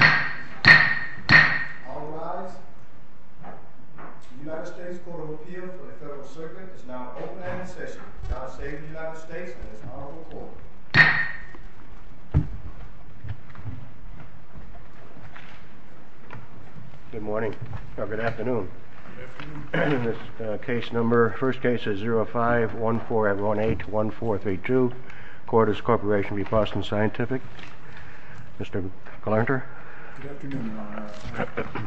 All rise. The United States Court of Appeal for the Federal Circuit is now in open-ended session. I now say to the United States and its Honorable Court. Good morning. No, good afternoon. Good afternoon. This case number, first case is 05-14818-1432. Cordis Corporation v. Boston Scientific. Mr. Glarner. Good afternoon, Your Honor.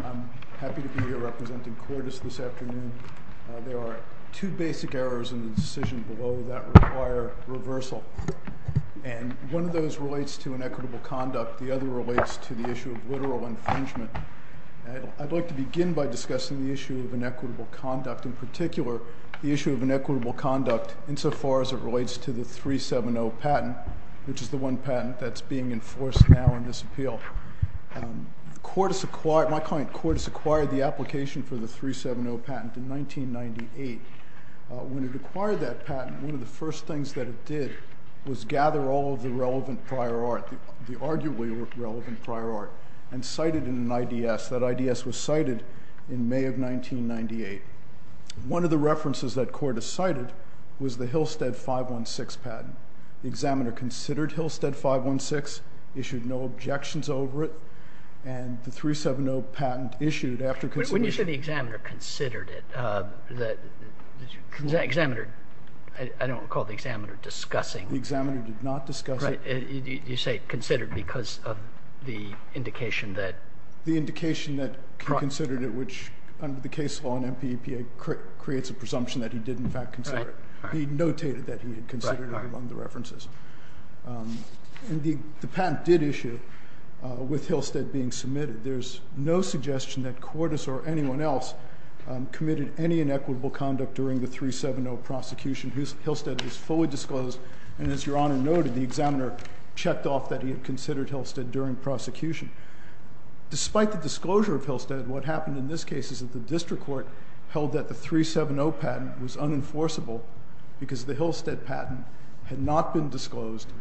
I'm happy to be here representing Cordis this afternoon. There are two basic errors in the decision below that require reversal. And one of those relates to inequitable conduct. The other relates to the issue of literal infringement. I'd like to begin by discussing the issue of inequitable conduct. In particular, the issue of inequitable conduct insofar as it relates to the 370 patent, which is the one patent that's being enforced now in this appeal. Cordis acquired the application for the 370 patent in 1998. When it acquired that patent, one of the first things that it did was gather all of the relevant prior art, the arguably relevant prior art, and cite it in an IDS. That IDS was cited in May of 1998. One of the references that Cordis cited was the Hillstead 516 patent. The examiner considered Hillstead 516, issued no objections over it, and the 370 patent issued after consideration. When you say the examiner considered it, the examiner, I don't recall the examiner discussing. The examiner did not discuss it. You say considered because of the indication that... The indication that he considered it, which under the case law in MPEPA creates a presumption that he did in fact consider it. He notated that he had considered it among the references. The patent did issue with Hillstead being submitted. There's no suggestion that Cordis or anyone else committed any inequitable conduct during the 370 prosecution. Hillstead was fully disclosed, and as Your Honor noted, the examiner checked off that he had considered Hillstead during prosecution. Despite the disclosure of Hillstead, what happened in this case is that the district court held that the 370 patent was unenforceable because the Hillstead patent had not been disclosed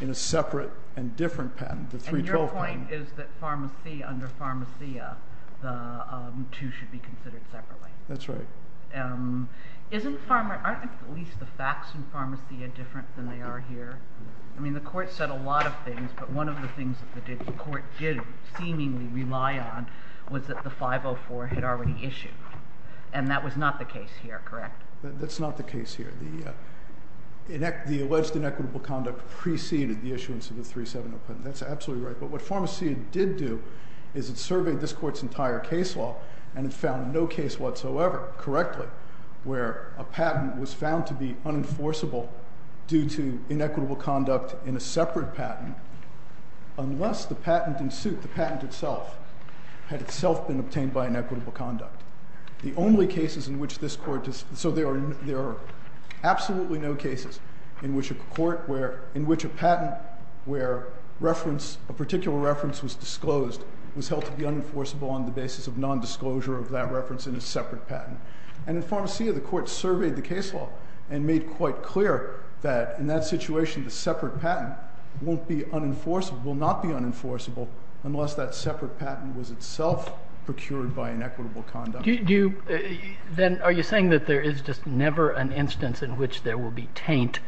in a separate and different patent. The 312 patent. And your point is that pharmacy under pharmacia, the two should be considered separately. That's right. Aren't at least the facts in pharmacia different than they are here? I mean the court said a lot of things, but one of the things that the district court did seemingly rely on was that the 504 had already issued. And that was not the case here, correct? That's not the case here. The alleged inequitable conduct preceded the issuance of the 370 patent. That's absolutely right. But what pharmacia did do is it surveyed this court's entire case law and it found no case whatsoever correctly where a patent was found to be unenforceable due to inequitable conduct in a separate patent unless the patent in suit, the patent itself, had itself been obtained by inequitable conduct. The only cases in which this court, so there are absolutely no cases in which a patent where a particular reference was disclosed was held to be unenforceable on the basis of non-disclosure of that reference in a separate patent. And in pharmacia the court surveyed the case law and made quite clear that in that situation the separate patent won't be unenforceable, will not be unenforceable unless that separate patent was itself procured by inequitable conduct. Then are you saying that there is just never an instance in which there will be taint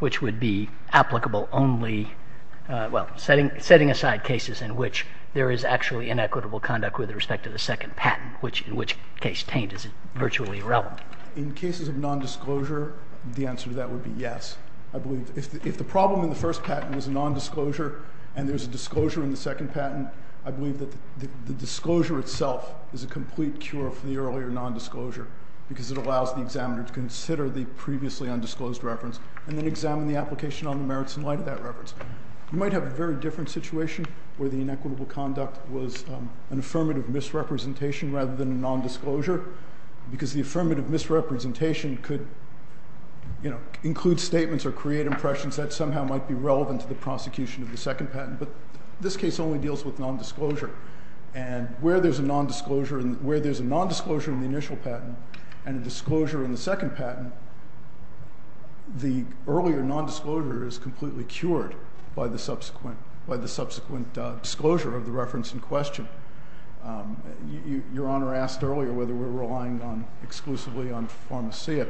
which would be applicable only, well, setting aside cases in which there is actually inequitable conduct with respect to the second patent, which in which case taint is virtually irrelevant? In cases of non-disclosure, the answer to that would be yes. I believe if the problem in the first patent was non-disclosure and there is a disclosure in the second patent, I believe that the disclosure itself is a complete cure for the earlier non-disclosure because it allows the examiner to consider the previously undisclosed reference You might have a very different situation where the inequitable conduct was an affirmative misrepresentation rather than a non-disclosure because the affirmative misrepresentation could include statements or create impressions that somehow might be relevant to the prosecution of the second patent. But this case only deals with non-disclosure. And where there is a non-disclosure in the initial patent and a disclosure in the second patent, the earlier non-disclosure is completely cured by the subsequent disclosure of the reference in question. Your Honor asked earlier whether we're relying exclusively on pharmacia.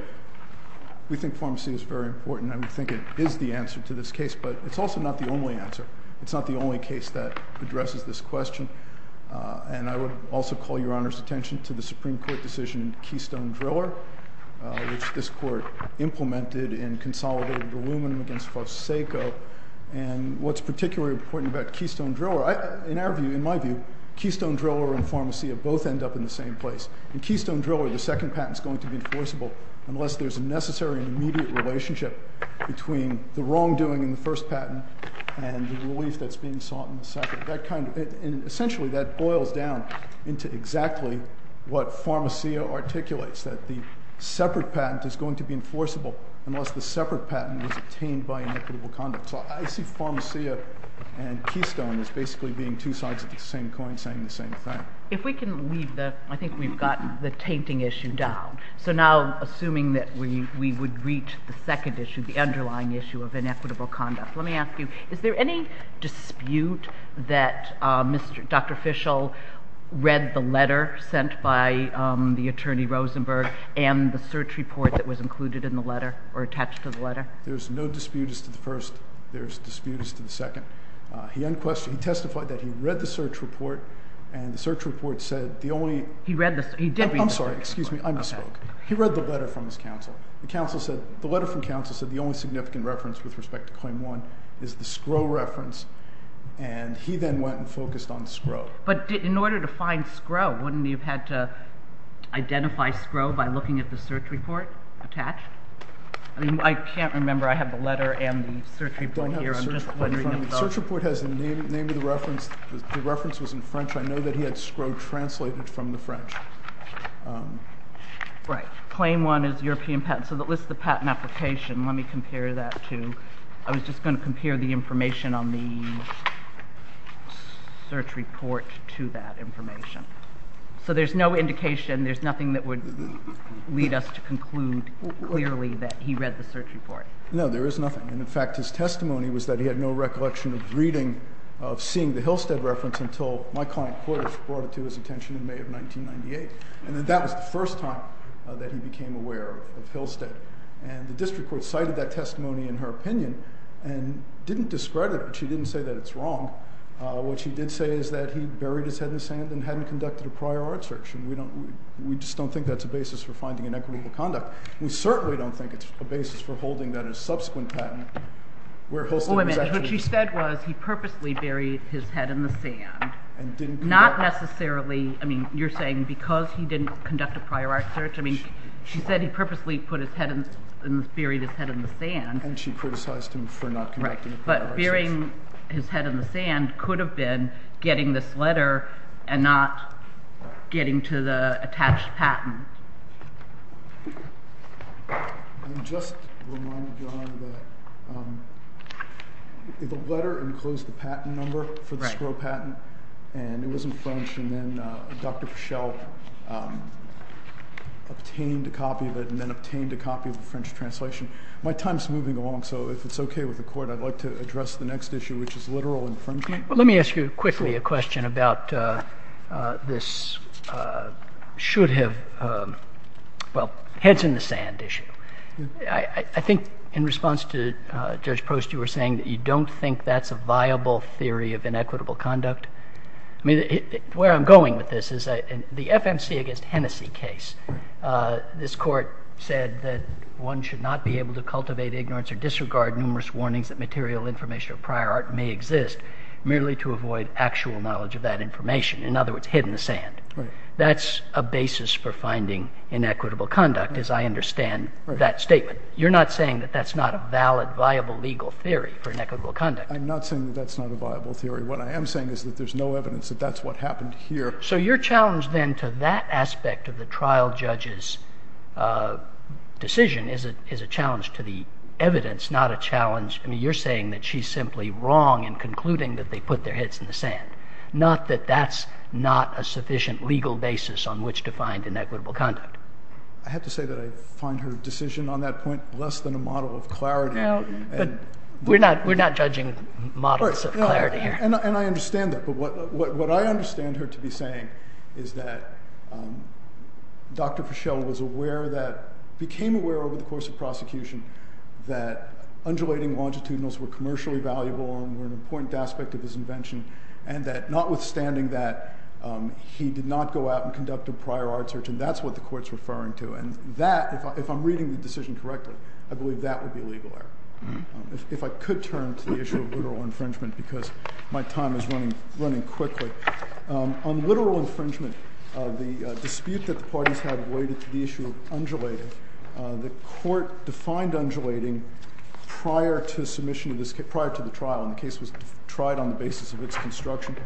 We think pharmacia is very important and we think it is the answer to this case, but it's also not the only answer. It's not the only case that addresses this question. And I would also call Your Honor's attention to the Supreme Court decision in Keystone Driller, which this Court implemented and consolidated the aluminum against Fosseco. And what's particularly important about Keystone Driller, in our view, in my view, Keystone Driller and pharmacia both end up in the same place. In Keystone Driller, the second patent is going to be enforceable unless there's a necessary immediate relationship between the wrongdoing in the first patent and the relief that's being sought in the second. Essentially, that boils down into exactly what pharmacia articulates, that the separate patent is going to be enforceable unless the separate patent was obtained by inequitable conduct. So I see pharmacia and Keystone as basically being two sides of the same coin saying the same thing. If we can leave the – I think we've gotten the tainting issue down. So now, assuming that we would reach the second issue, the underlying issue of inequitable conduct, let me ask you, is there any dispute that Dr. Fishel read the letter sent by the attorney Rosenberg and the search report that was included in the letter or attached to the letter? There's no dispute as to the first. There's dispute as to the second. He unquestionedly testified that he read the search report, and the search report said the only – He read the – he did read the search report. I'm sorry. Excuse me. I misspoke. Okay. He read the letter from his counsel. The letter from counsel said the only significant reference with respect to Claim 1 is the Skrow reference, and he then went and focused on Skrow. But in order to find Skrow, wouldn't he have had to identify Skrow by looking at the search report attached? I mean, I can't remember. I have the letter and the search report here. I don't have the search report in front of me. The search report has the name of the reference. The reference was in French. I know that he had Skrow translated from the French. Right. Claim 1 is European patent. So that lists the patent application. Let me compare that to – I was just going to compare the information on the search report to that information. So there's no indication, there's nothing that would lead us to conclude clearly that he read the search report. No, there is nothing. And, in fact, his testimony was that he had no recollection of reading – brought it to his attention in May of 1998, and that was the first time that he became aware of Hillstead. And the district court cited that testimony in her opinion and didn't discredit it, but she didn't say that it's wrong. What she did say is that he buried his head in the sand and hadn't conducted a prior art search, and we just don't think that's a basis for finding inequitable conduct. We certainly don't think it's a basis for holding that as a subsequent patent where Hillstead was actually – Wait a minute. What she said was he purposely buried his head in the sand. And didn't – Not necessarily – I mean, you're saying because he didn't conduct a prior art search? I mean, she said he purposely buried his head in the sand. And she criticized him for not conducting a prior art search. But burying his head in the sand could have been getting this letter and not getting to the attached patent. And just to remind John that the letter enclosed the patent number for the Skrow patent, and it was in French, and then Dr. Pichelle obtained a copy of it and then obtained a copy of the French translation. My time is moving along, so if it's okay with the court, I'd like to address the next issue, which is literal infringement. Well, let me ask you quickly a question about this should have – well, heads in the sand issue. I think in response to Judge Proust, you were saying that you don't think that's a viable theory of inequitable conduct. I mean, where I'm going with this is the FMC against Hennessy case. This court said that one should not be able to cultivate ignorance or disregard numerous warnings that material information of prior art may exist. Merely to avoid actual knowledge of that information. In other words, head in the sand. That's a basis for finding inequitable conduct, as I understand that statement. You're not saying that that's not a valid, viable legal theory for inequitable conduct. I'm not saying that that's not a viable theory. What I am saying is that there's no evidence that that's what happened here. So your challenge then to that aspect of the trial judge's decision is a challenge to the evidence, not a challenge – I mean, you're saying that she's simply wrong in concluding that they put their heads in the sand. Not that that's not a sufficient legal basis on which to find inequitable conduct. I have to say that I find her decision on that point less than a model of clarity. We're not judging models of clarity here. And I understand that. But what I understand her to be saying is that Dr. Fischel was aware that – became aware over the course of prosecution that undulating longitudinals were commercially valuable and were an important aspect of his invention. And that notwithstanding that, he did not go out and conduct a prior art search. And that's what the court's referring to. And that, if I'm reading the decision correctly, I believe that would be legal error. If I could turn to the issue of literal infringement because my time is running quickly. On literal infringement, the dispute that the parties had related to the issue of undulating, the court defined undulating prior to the trial, and the case was tried on the basis of its construction.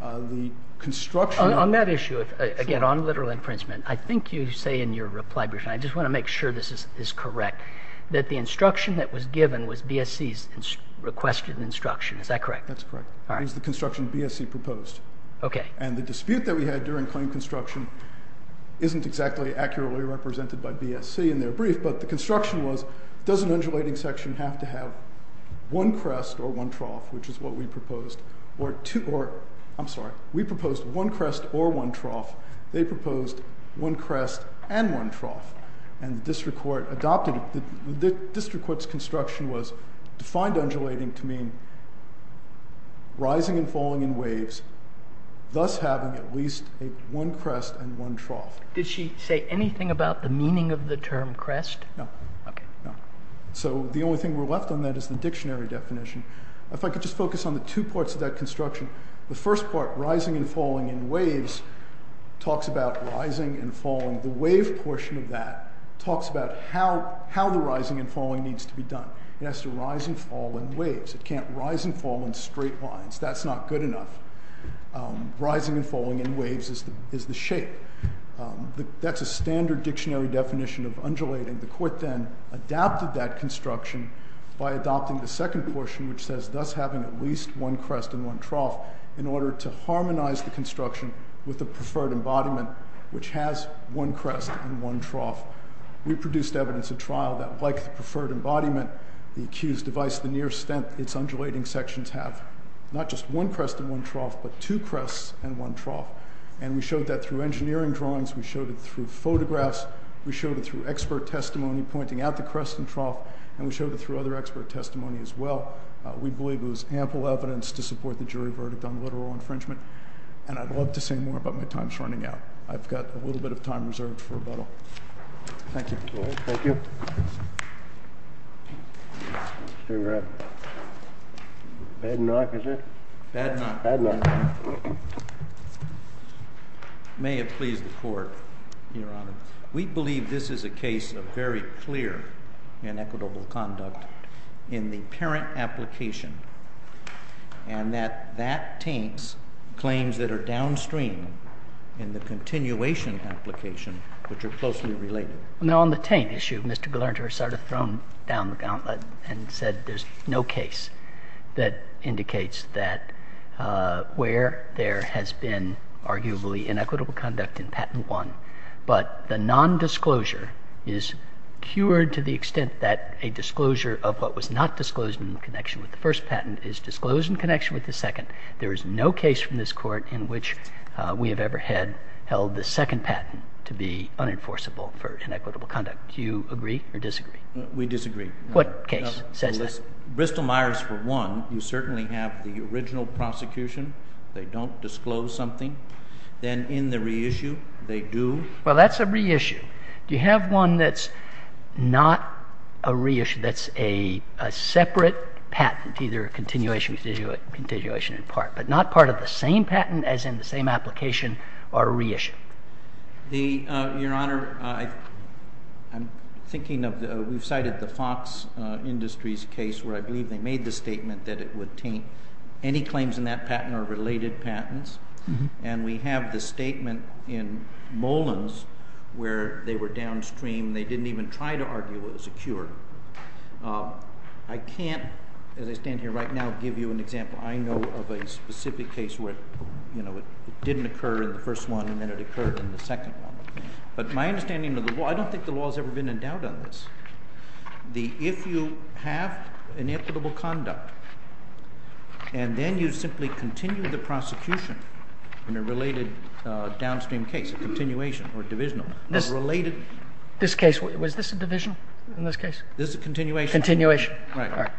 The construction – On that issue, again, on literal infringement, I think you say in your reply, Bruce, and I just want to make sure this is correct, that the instruction that was given was BSC's requested instruction. Is that correct? That's correct. All right. It was the construction BSC proposed. Okay. And the dispute that we had during claim construction isn't exactly accurately represented by BSC in their brief, but the construction was, does an undulating section have to have one crest or one trough, which is what we proposed, or two – or – I'm sorry. We proposed one crest or one trough. They proposed one crest and one trough. And the district court adopted – the district court's construction was defined undulating to mean rising and falling in waves, thus having at least one crest and one trough. Did she say anything about the meaning of the term crest? No. Okay. No. So the only thing we're left on that is the dictionary definition. If I could just focus on the two parts of that construction. The first part, rising and falling in waves, talks about rising and falling. The wave portion of that talks about how the rising and falling needs to be done. It has to rise and fall in waves. It can't rise and fall in straight lines. That's not good enough. Rising and falling in waves is the shape. That's a standard dictionary definition of undulating. The court then adapted that construction by adopting the second portion, which says, thus having at least one crest and one trough, in order to harmonize the construction with the preferred embodiment, which has one crest and one trough. We produced evidence at trial that, like the preferred embodiment, the accused device, the near extent its undulating sections have not just one crest and one trough, but two crests and one trough. And we showed that through engineering drawings. We showed it through photographs. We showed it through expert testimony pointing out the crest and trough. And we showed it through other expert testimony as well. We believe it was ample evidence to support the jury verdict on literal infringement. And I'd love to say more about my time shortening out. I've got a little bit of time reserved for rebuttal. Thank you. Thank you. Mr. Graff. Bad knock, is it? Bad knock. Bad knock. Your Honor, it may have pleased the Court. Your Honor, we believe this is a case of very clear and equitable conduct in the parent application, and that that taints claims that are downstream in the continuation application, which are closely related. Now, on the taint issue, Mr. Glarner sort of thrown down the gauntlet and said there's no case that indicates that where there has been arguably inequitable conduct in patent one, but the nondisclosure is cured to the extent that a disclosure of what was not disclosed in connection with the first patent is disclosed in connection with the second. There is no case from this Court in which we have ever held the second patent to be unenforceable for inequitable conduct. Do you agree or disagree? We disagree. What case says that? Bristol-Myers for one. You certainly have the original prosecution. They don't disclose something. Then in the reissue, they do. Well, that's a reissue. Do you have one that's not a reissue, that's a separate patent, either a continuation in part, but not part of the same patent as in the same application or a reissue? Your Honor, I'm thinking of we've cited the Fox Industries case where I believe they made the statement that it would taint any claims in that patent or related patents. And we have the statement in Molan's where they were downstream. They didn't even try to argue it was a cure. I can't, as I stand here right now, give you an example I know of a specific case where it didn't occur in the first one and then it occurred in the second one. But my understanding of the law, I don't think the law has ever been in doubt on this. If you have inequitable conduct, and then you simply continue the prosecution in a related downstream case, a continuation or a divisional, a related. This case, was this a divisional in this case? This is a continuation. Continuation. Right.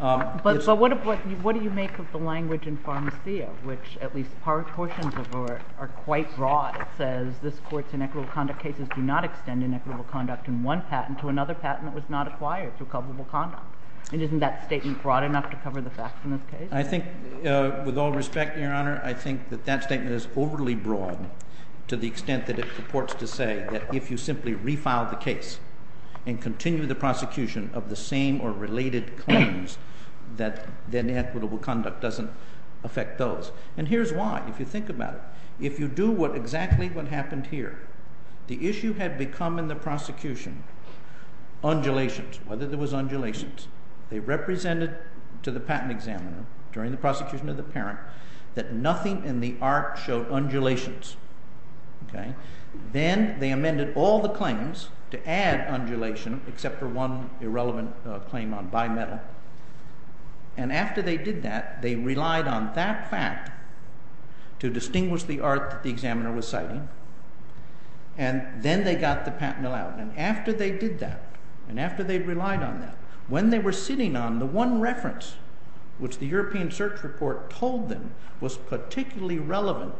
But what do you make of the language in Pharmacia, which at least portions of it are quite broad? It says this court's inequitable conduct cases do not extend inequitable conduct in one patent to another patent that was not acquired through coverable conduct. And isn't that statement broad enough to cover the facts in this case? I think, with all respect, Your Honor, I think that that statement is overly broad to the extent that it purports to say that if you simply refile the case and continue the prosecution of the same or related claims, that inequitable conduct doesn't affect those. And here's why, if you think about it. If you do exactly what happened here, the issue had become in the prosecution undulations, whether there was undulations. They represented to the patent examiner during the prosecution of the parent that nothing in the art showed undulations. Then they amended all the claims to add undulation, except for one irrelevant claim on bimetal. And after they did that, they relied on that fact to distinguish the art that the examiner was citing. And then they got the patent allowed. And after they did that, and after they relied on that, when they were sitting on the one reference which the European search report told them was particularly relevant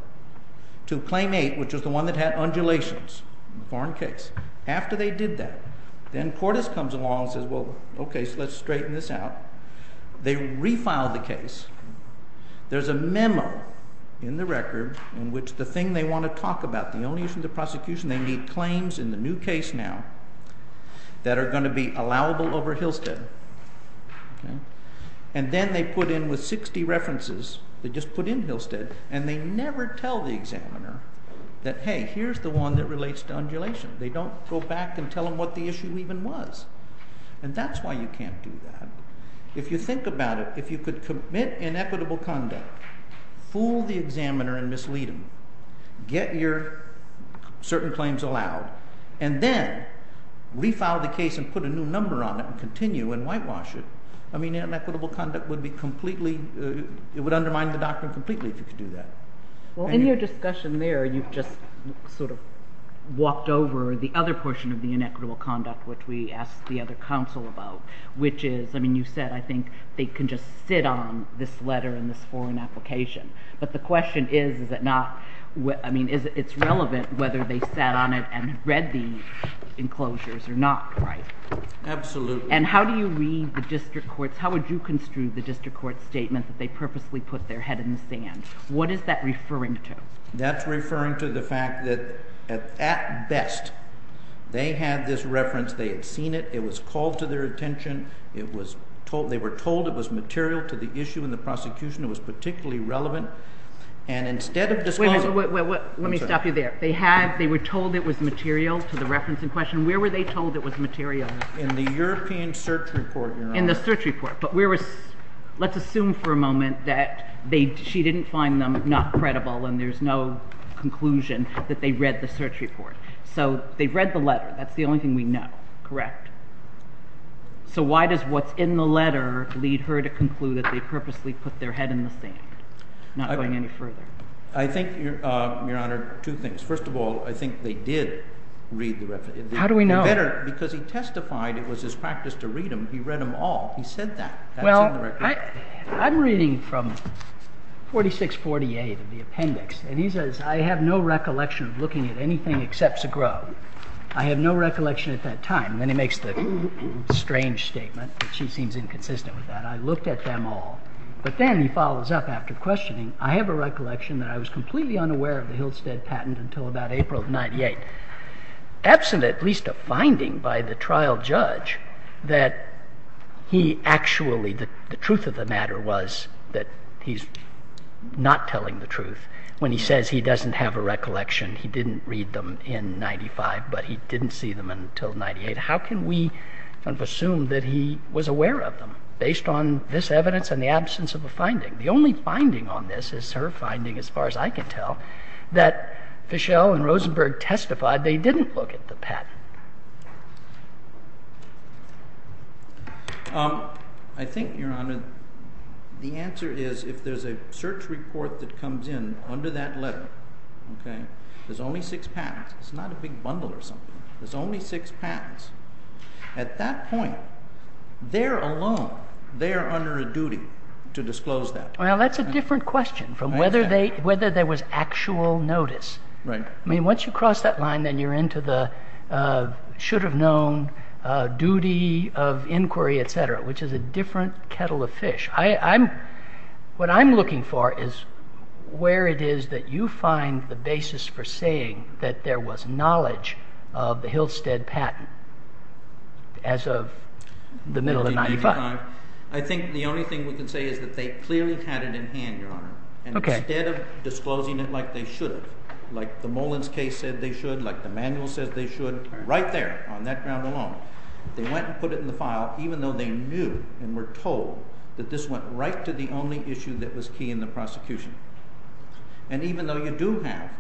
to claim eight, which was the one that had undulations in the foreign case. After they did that, then Cordes comes along and says, well, OK, so let's straighten this out. There's a memo in the record in which the thing they want to talk about, the only issue in the prosecution, they need claims in the new case now that are going to be allowable over Hillstead. And then they put in with 60 references, they just put in Hillstead, and they never tell the examiner that, hey, here's the one that relates to undulation. They don't go back and tell them what the issue even was. And that's why you can't do that. If you think about it, if you could commit inequitable conduct, fool the examiner and mislead him, get your certain claims allowed, and then refile the case and put a new number on it and continue and whitewash it, I mean, inequitable conduct would be completely, it would undermine the doctrine completely if you could do that. Well, in your discussion there, you just sort of walked over the other portion of the inequitable conduct, which we asked the other counsel about, which is, I mean, you said, I think they can just sit on this letter and this foreign application. But the question is, is it not, I mean, it's relevant whether they sat on it and read the enclosures or not, right? Absolutely. And how do you read the district courts? How would you construe the district court statement that they purposely put their head in the sand? What is that referring to? That's referring to the fact that, at best, they had this reference. They had seen it. It was called to their attention. They were told it was material to the issue in the prosecution. It was particularly relevant. And instead of disclosing it. Wait, wait, wait, wait, let me stop you there. They were told it was material to the reference in question. Where were they told it was material? In the European search report, Your Honor. In the search report. But let's assume for a moment that she didn't find them not credible and there's no conclusion that they read the search report. So they read the letter. That's the only thing we know, correct? So why does what's in the letter lead her to conclude that they purposely put their head in the sand? Not going any further. I think, Your Honor, two things. First of all, I think they did read the reference. How do we know? Because he testified it was his practice to read them. He read them all. He said that. Well, I'm reading from 4648 of the appendix. And he says, I have no recollection of looking at anything except Zegro. I have no recollection at that time. And then he makes the strange statement that she seems inconsistent with that. I looked at them all. But then he follows up after questioning. I have a recollection that I was completely unaware of the Hilstead patent until about April of 98. Absent at least a finding by the trial judge that he actually, the truth of the matter was that he's not telling the truth when he says he doesn't have a recollection. He didn't read them in 95, but he didn't see them until 98. How can we assume that he was aware of them based on this evidence and the absence of a finding? The only finding on this is her finding, as far as I can tell, that Fischel and Rosenberg testified they didn't look at the patent. I think, Your Honor, the answer is if there's a search report that comes in under that letter, there's only six patents. It's not a big bundle or something. There's only six patents. At that point, they're alone. They're under a duty to disclose that. Well, that's a different question from whether there was actual notice. Right. I mean, once you cross that line, then you're into the should have known duty of inquiry, et cetera, which is a different kettle of fish. What I'm looking for is where it is that you find the basis for saying that there was knowledge of the Hillstead patent as of the middle of 95. I think the only thing we can say is that they clearly had it in hand, Your Honor, and instead of disclosing it like they should have, like the Mullins case said they should, like the manual says they should, right there on that ground alone, they went and put it in the file even though they knew and were told that this went right to the only issue that was key in the prosecution. And even though you do have,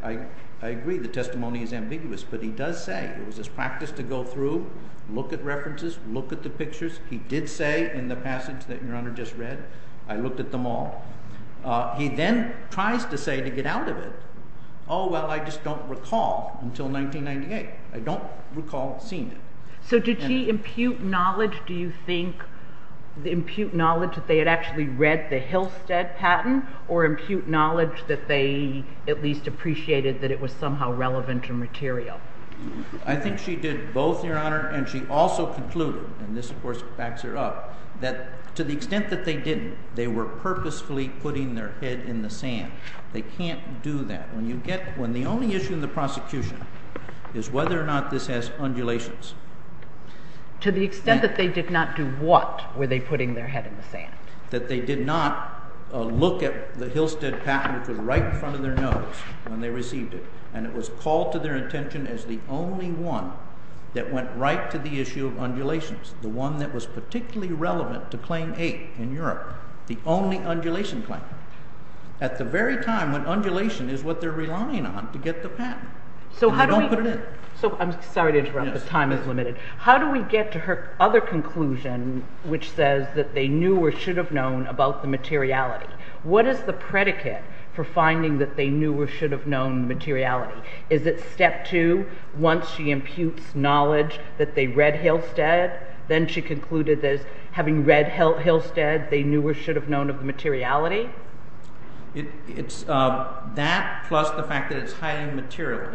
I agree, the testimony is ambiguous, but he does say it was his practice to go through, look at references, look at the pictures. He did say in the passage that Your Honor just read, I looked at them all. He then tries to say to get out of it, oh, well, I just don't recall until 1998. I don't recall seeing it. So did she impute knowledge, do you think, impute knowledge that they had actually read the Hillstead patent or impute knowledge that they at least appreciated that it was somehow relevant and material? I think she did both, Your Honor, and she also concluded, and this of course backs her up, that to the extent that they didn't, they were purposefully putting their head in the sand. They can't do that. When the only issue in the prosecution is whether or not this has undulations. To the extent that they did not do what were they putting their head in the sand? That they did not look at the Hillstead patent, which was right in front of their nose when they received it, and it was called to their attention as the only one that went right to the issue of undulations, the one that was particularly relevant to Claim 8 in Europe, the only undulation claim. At the very time when undulation is what they're relying on to get the patent. So I'm sorry to interrupt, the time is limited. How do we get to her other conclusion, which says that they knew or should have known about the materiality? What is the predicate for finding that they knew or should have known the materiality? Is it step two, once she imputes knowledge that they read Hillstead, then she concluded that having read Hillstead, they knew or should have known of the materiality? It's that plus the fact that it's highly material.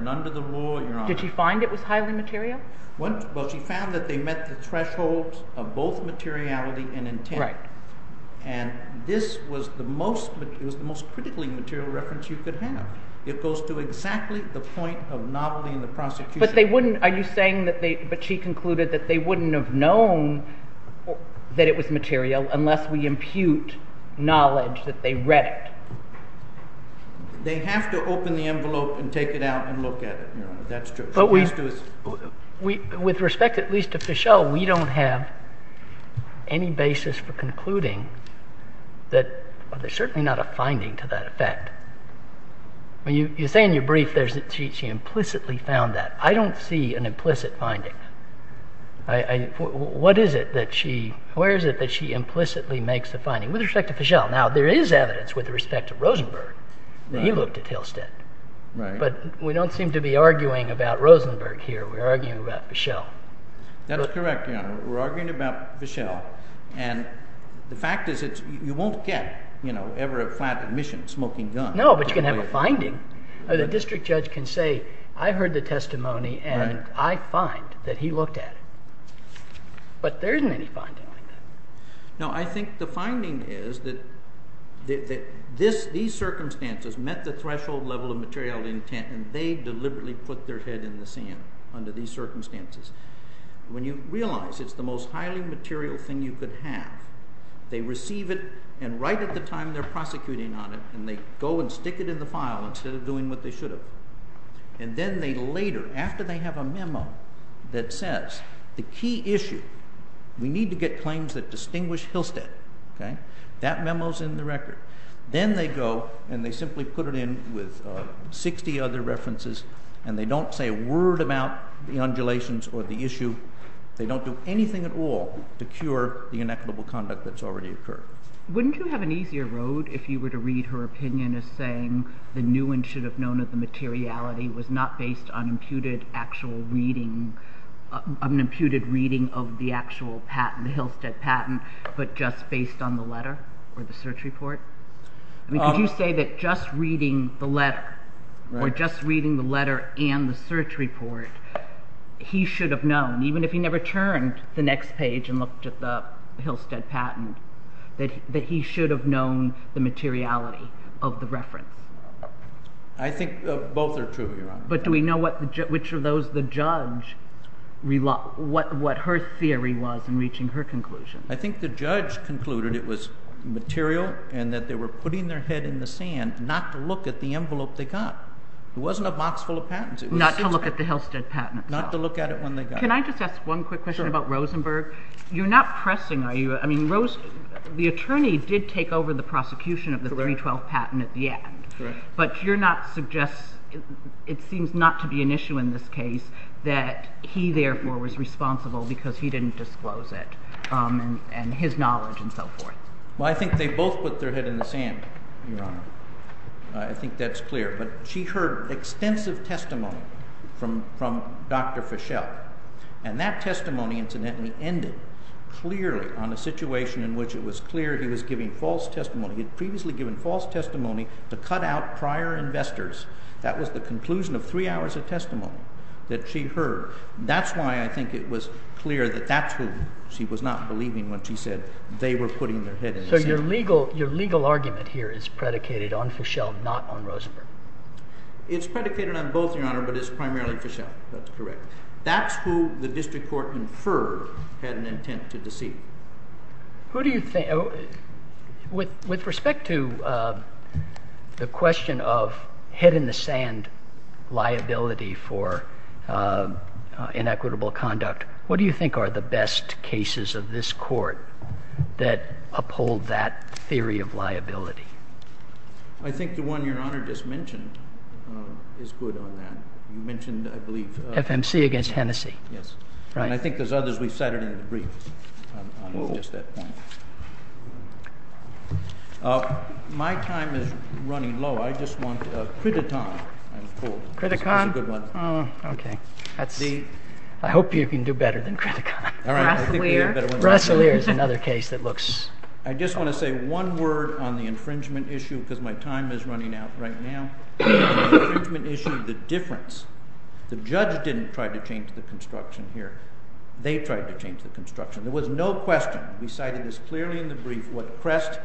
Did she find it was highly material? She found that they met the thresholds of both materiality and intent. And this was the most critically material reference you could have. It goes to exactly the point of novelty in the prosecution. But she concluded that they wouldn't have known that it was material unless we impute knowledge that they read it. They have to open the envelope and take it out and look at it. With respect at least to Fischel, we don't have any basis for concluding that there's certainly not a finding to that effect. You say in your brief that she implicitly found that. I don't see an implicit finding. Where is it that she implicitly makes a finding? With respect to Fischel. Now there is evidence with respect to Rosenberg that he looked at Hillstead. But we don't seem to be arguing about Rosenberg here. We're arguing about Fischel. That's correct, Your Honor. We're arguing about Fischel. And the fact is you won't get ever a flat admission smoking guns. No, but you can have a finding. The district judge can say I heard the testimony and I find that he looked at it. But there isn't any finding like that. Now I think the finding is that these circumstances met the threshold level of material intent and they deliberately put their head in the sand under these circumstances. When you realize it's the most highly material thing you could have, they receive it and right at the time they're prosecuting on it and they go and stick it in the file instead of doing what they should have. And then they later, after they have a memo that says the key issue, we need to get claims that distinguish Hillstead, that memo's in the record. Then they go and they simply put it in with 60 other references and they don't say a word about the undulations or the issue. They don't do anything at all to cure the inequitable conduct that's already occurred. Wouldn't you have an easier road if you were to read her opinion as saying the new one should have known of the materiality was not based on an imputed reading of the actual patent, the Hillstead patent, but just based on the letter or the search report? Could you say that just reading the letter or just reading the letter and the search report, he should have known, even if he never turned the next page and looked at the Hillstead patent, that he should have known the materiality of the reference? I think both are true, Your Honor. But do we know which of those the judge, what her theory was in reaching her conclusion? I think the judge concluded it was material and that they were putting their head in the sand not to look at the envelope they got. It wasn't a box full of patents. Not to look at the Hillstead patent. Not to look at it when they got it. Can I just ask one quick question about Rosenberg? You're not pressing, are you? I mean, Rose, the attorney did take over the prosecution of the 312 patent at the end. Correct. But you're not suggesting, it seems not to be an issue in this case, that he, therefore, was responsible because he didn't disclose it and his knowledge and so forth. Well, I think they both put their head in the sand, Your Honor. I think that's clear. But she heard extensive testimony from Dr. Fischel. And that testimony, incidentally, ended clearly on a situation in which it was clear he was giving false testimony. He had previously given false testimony to cut out prior investors. That was the conclusion of three hours of testimony that she heard. That's why I think it was clear that that's who she was not believing when she said they were putting their head in the sand. So your legal argument here is predicated on Fischel, not on Rosenberg. It's predicated on both, Your Honor, but it's primarily Fischel. That's correct. That's who the district court inferred had an intent to deceive. With respect to the question of head in the sand liability for inequitable conduct, what do you think are the best cases of this court that uphold that theory of liability? I think the one Your Honor just mentioned is good on that. You mentioned, I believe, FMC against Hennessey. Yes. Right. And I think there's others we've cited in the brief on just that point. My time is running low. I just want Criticon, I'm told. Criticon? That's a good one. Oh, OK. I hope you can do better than Criticon. All right. Rasselier. Rasselier is another case that looks. I just want to say one word on the infringement issue because my time is running out right now. The infringement issue, the difference. The judge didn't try to change the construction here. They tried to change the construction. There was no question. We cited this clearly in the brief what crest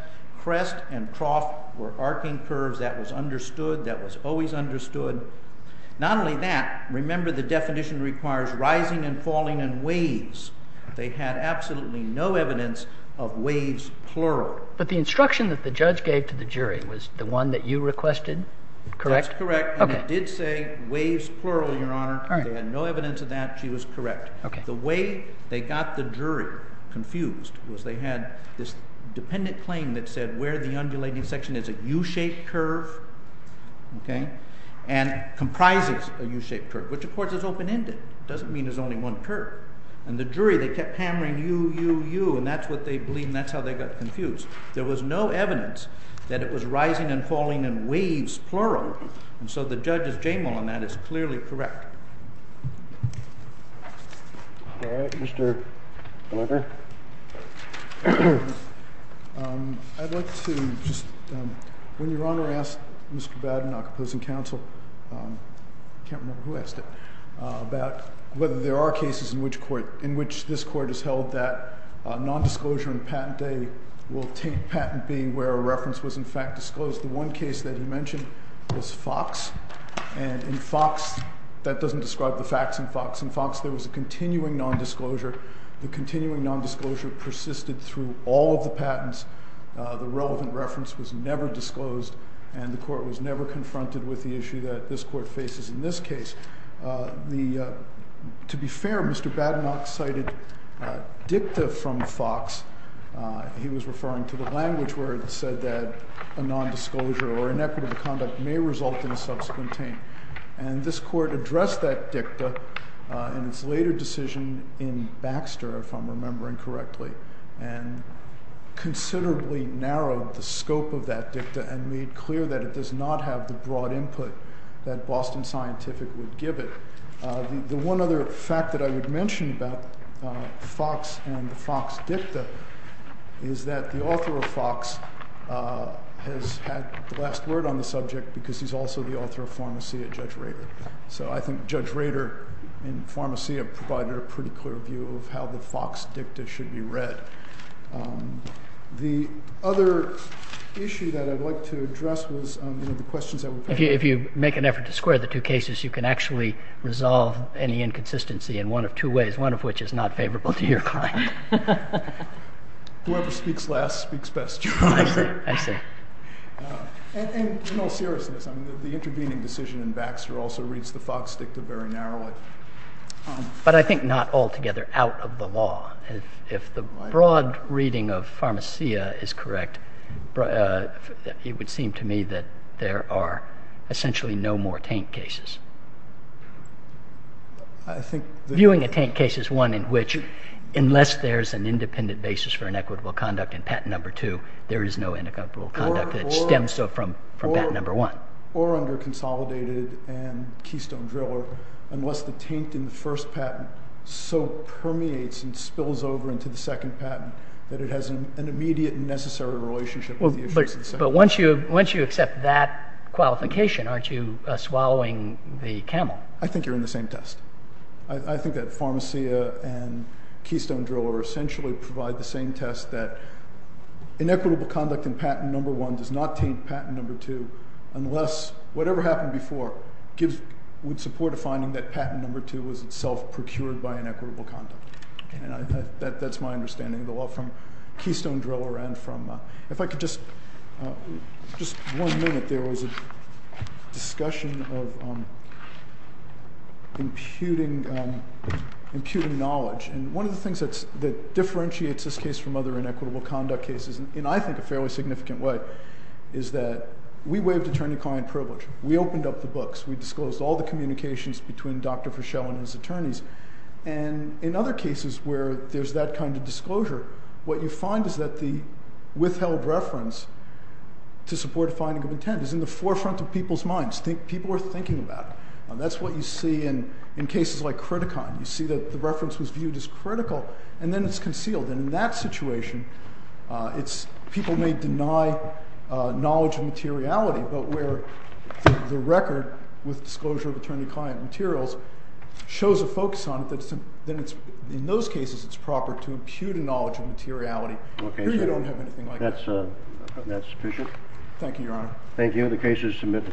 and trough were arcing curves. That was understood. That was always understood. Not only that, remember the definition requires rising and falling in waves. They had absolutely no evidence of waves plural. But the instruction that the judge gave to the jury was the one that you requested, correct? That's correct. And it did say waves plural, Your Honor. They had no evidence of that. She was correct. The way they got the jury confused was they had this dependent claim that said where the undulating section is a U-shaped curve and comprises a U-shaped curve, which, of course, is open-ended. It doesn't mean there's only one curve. And the jury, they kept hammering you, you, you. And that's what they believe. And that's how they got confused. There was no evidence that it was rising and falling in waves plural. And so the judge's J-mole on that is clearly correct. All right. Mr. I'd like to just when Your Honor asked Mr. whether there are cases in which this court has held that nondisclosure and patent day will take patent being where a reference was in fact disclosed. The one case that you mentioned was Fox. And in Fox, that doesn't describe the facts in Fox. In Fox, there was a continuing nondisclosure. The continuing nondisclosure persisted through all of the patents. The relevant reference was never disclosed. And the court was never confronted with the issue that this court faces in this case. To be fair, Mr. Badenock cited dicta from Fox. He was referring to the language where it said that a nondisclosure or inequitable conduct may result in a subsequent taint. And this court addressed that dicta in its later decision in Baxter, if I'm remembering correctly, and considerably narrowed the scope of that dicta and made clear that it does not have the broad input that Boston Scientific would give it. The one other fact that I would mention about Fox and the Fox dicta is that the author of Fox has had the last word on the subject because he's also the author of Pharmacia, Judge Rader. So I think Judge Rader in Pharmacia provided a pretty clear view of how the Fox dicta should be read. The other issue that I'd like to address was the questions that were coming up. If you make an effort to square the two cases, you can actually resolve any inconsistency in one of two ways, one of which is not favorable to your client. Whoever speaks last speaks best. I see. And in all seriousness, the intervening decision in Baxter also reads the Fox dicta very narrowly. But I think not altogether out of the law. If the broad reading of Pharmacia is correct, it would seem to me that there are essentially no more taint cases. Viewing a taint case is one in which, unless there's an independent basis for inequitable conduct in patent number two, there is no inequitable conduct that stems from patent number one. Or under Consolidated and Keystone Driller, unless the taint in the first patent so permeates and spills over into the second patent that it has an immediate and necessary relationship with the issues of the second patent. But once you accept that qualification, aren't you swallowing the camel? I think you're in the same test. I think that Pharmacia and Keystone Driller essentially provide the same test that inequitable conduct in patent number one does not taint patent number two unless whatever happened before would support a finding that patent number two was itself procured by inequitable conduct. And that's my understanding of the law from Keystone Driller and from, if I could just, just one minute, there was a discussion of imputing knowledge. And one of the things that differentiates this case from other inequitable conduct cases, and I think a fairly significant way, is that we waived attorney-client privilege. We opened up the books. We disclosed all the communications between Dr. Fischel and his attorneys. And in other cases where there's that kind of disclosure, what you find is that the withheld reference to support a finding of intent is in the forefront of people's minds. People are thinking about it. That's what you see in cases like Criticon. You see that the reference was viewed as critical, and then it's concealed. And in that situation, people may deny knowledge of materiality. But where the record with disclosure of attorney-client materials shows a focus on it, then in those cases it's proper to impute a knowledge of materiality. Here you don't have anything like that. That's sufficient. Thank you, Your Honor. Thank you. The case is submitted. Thank you.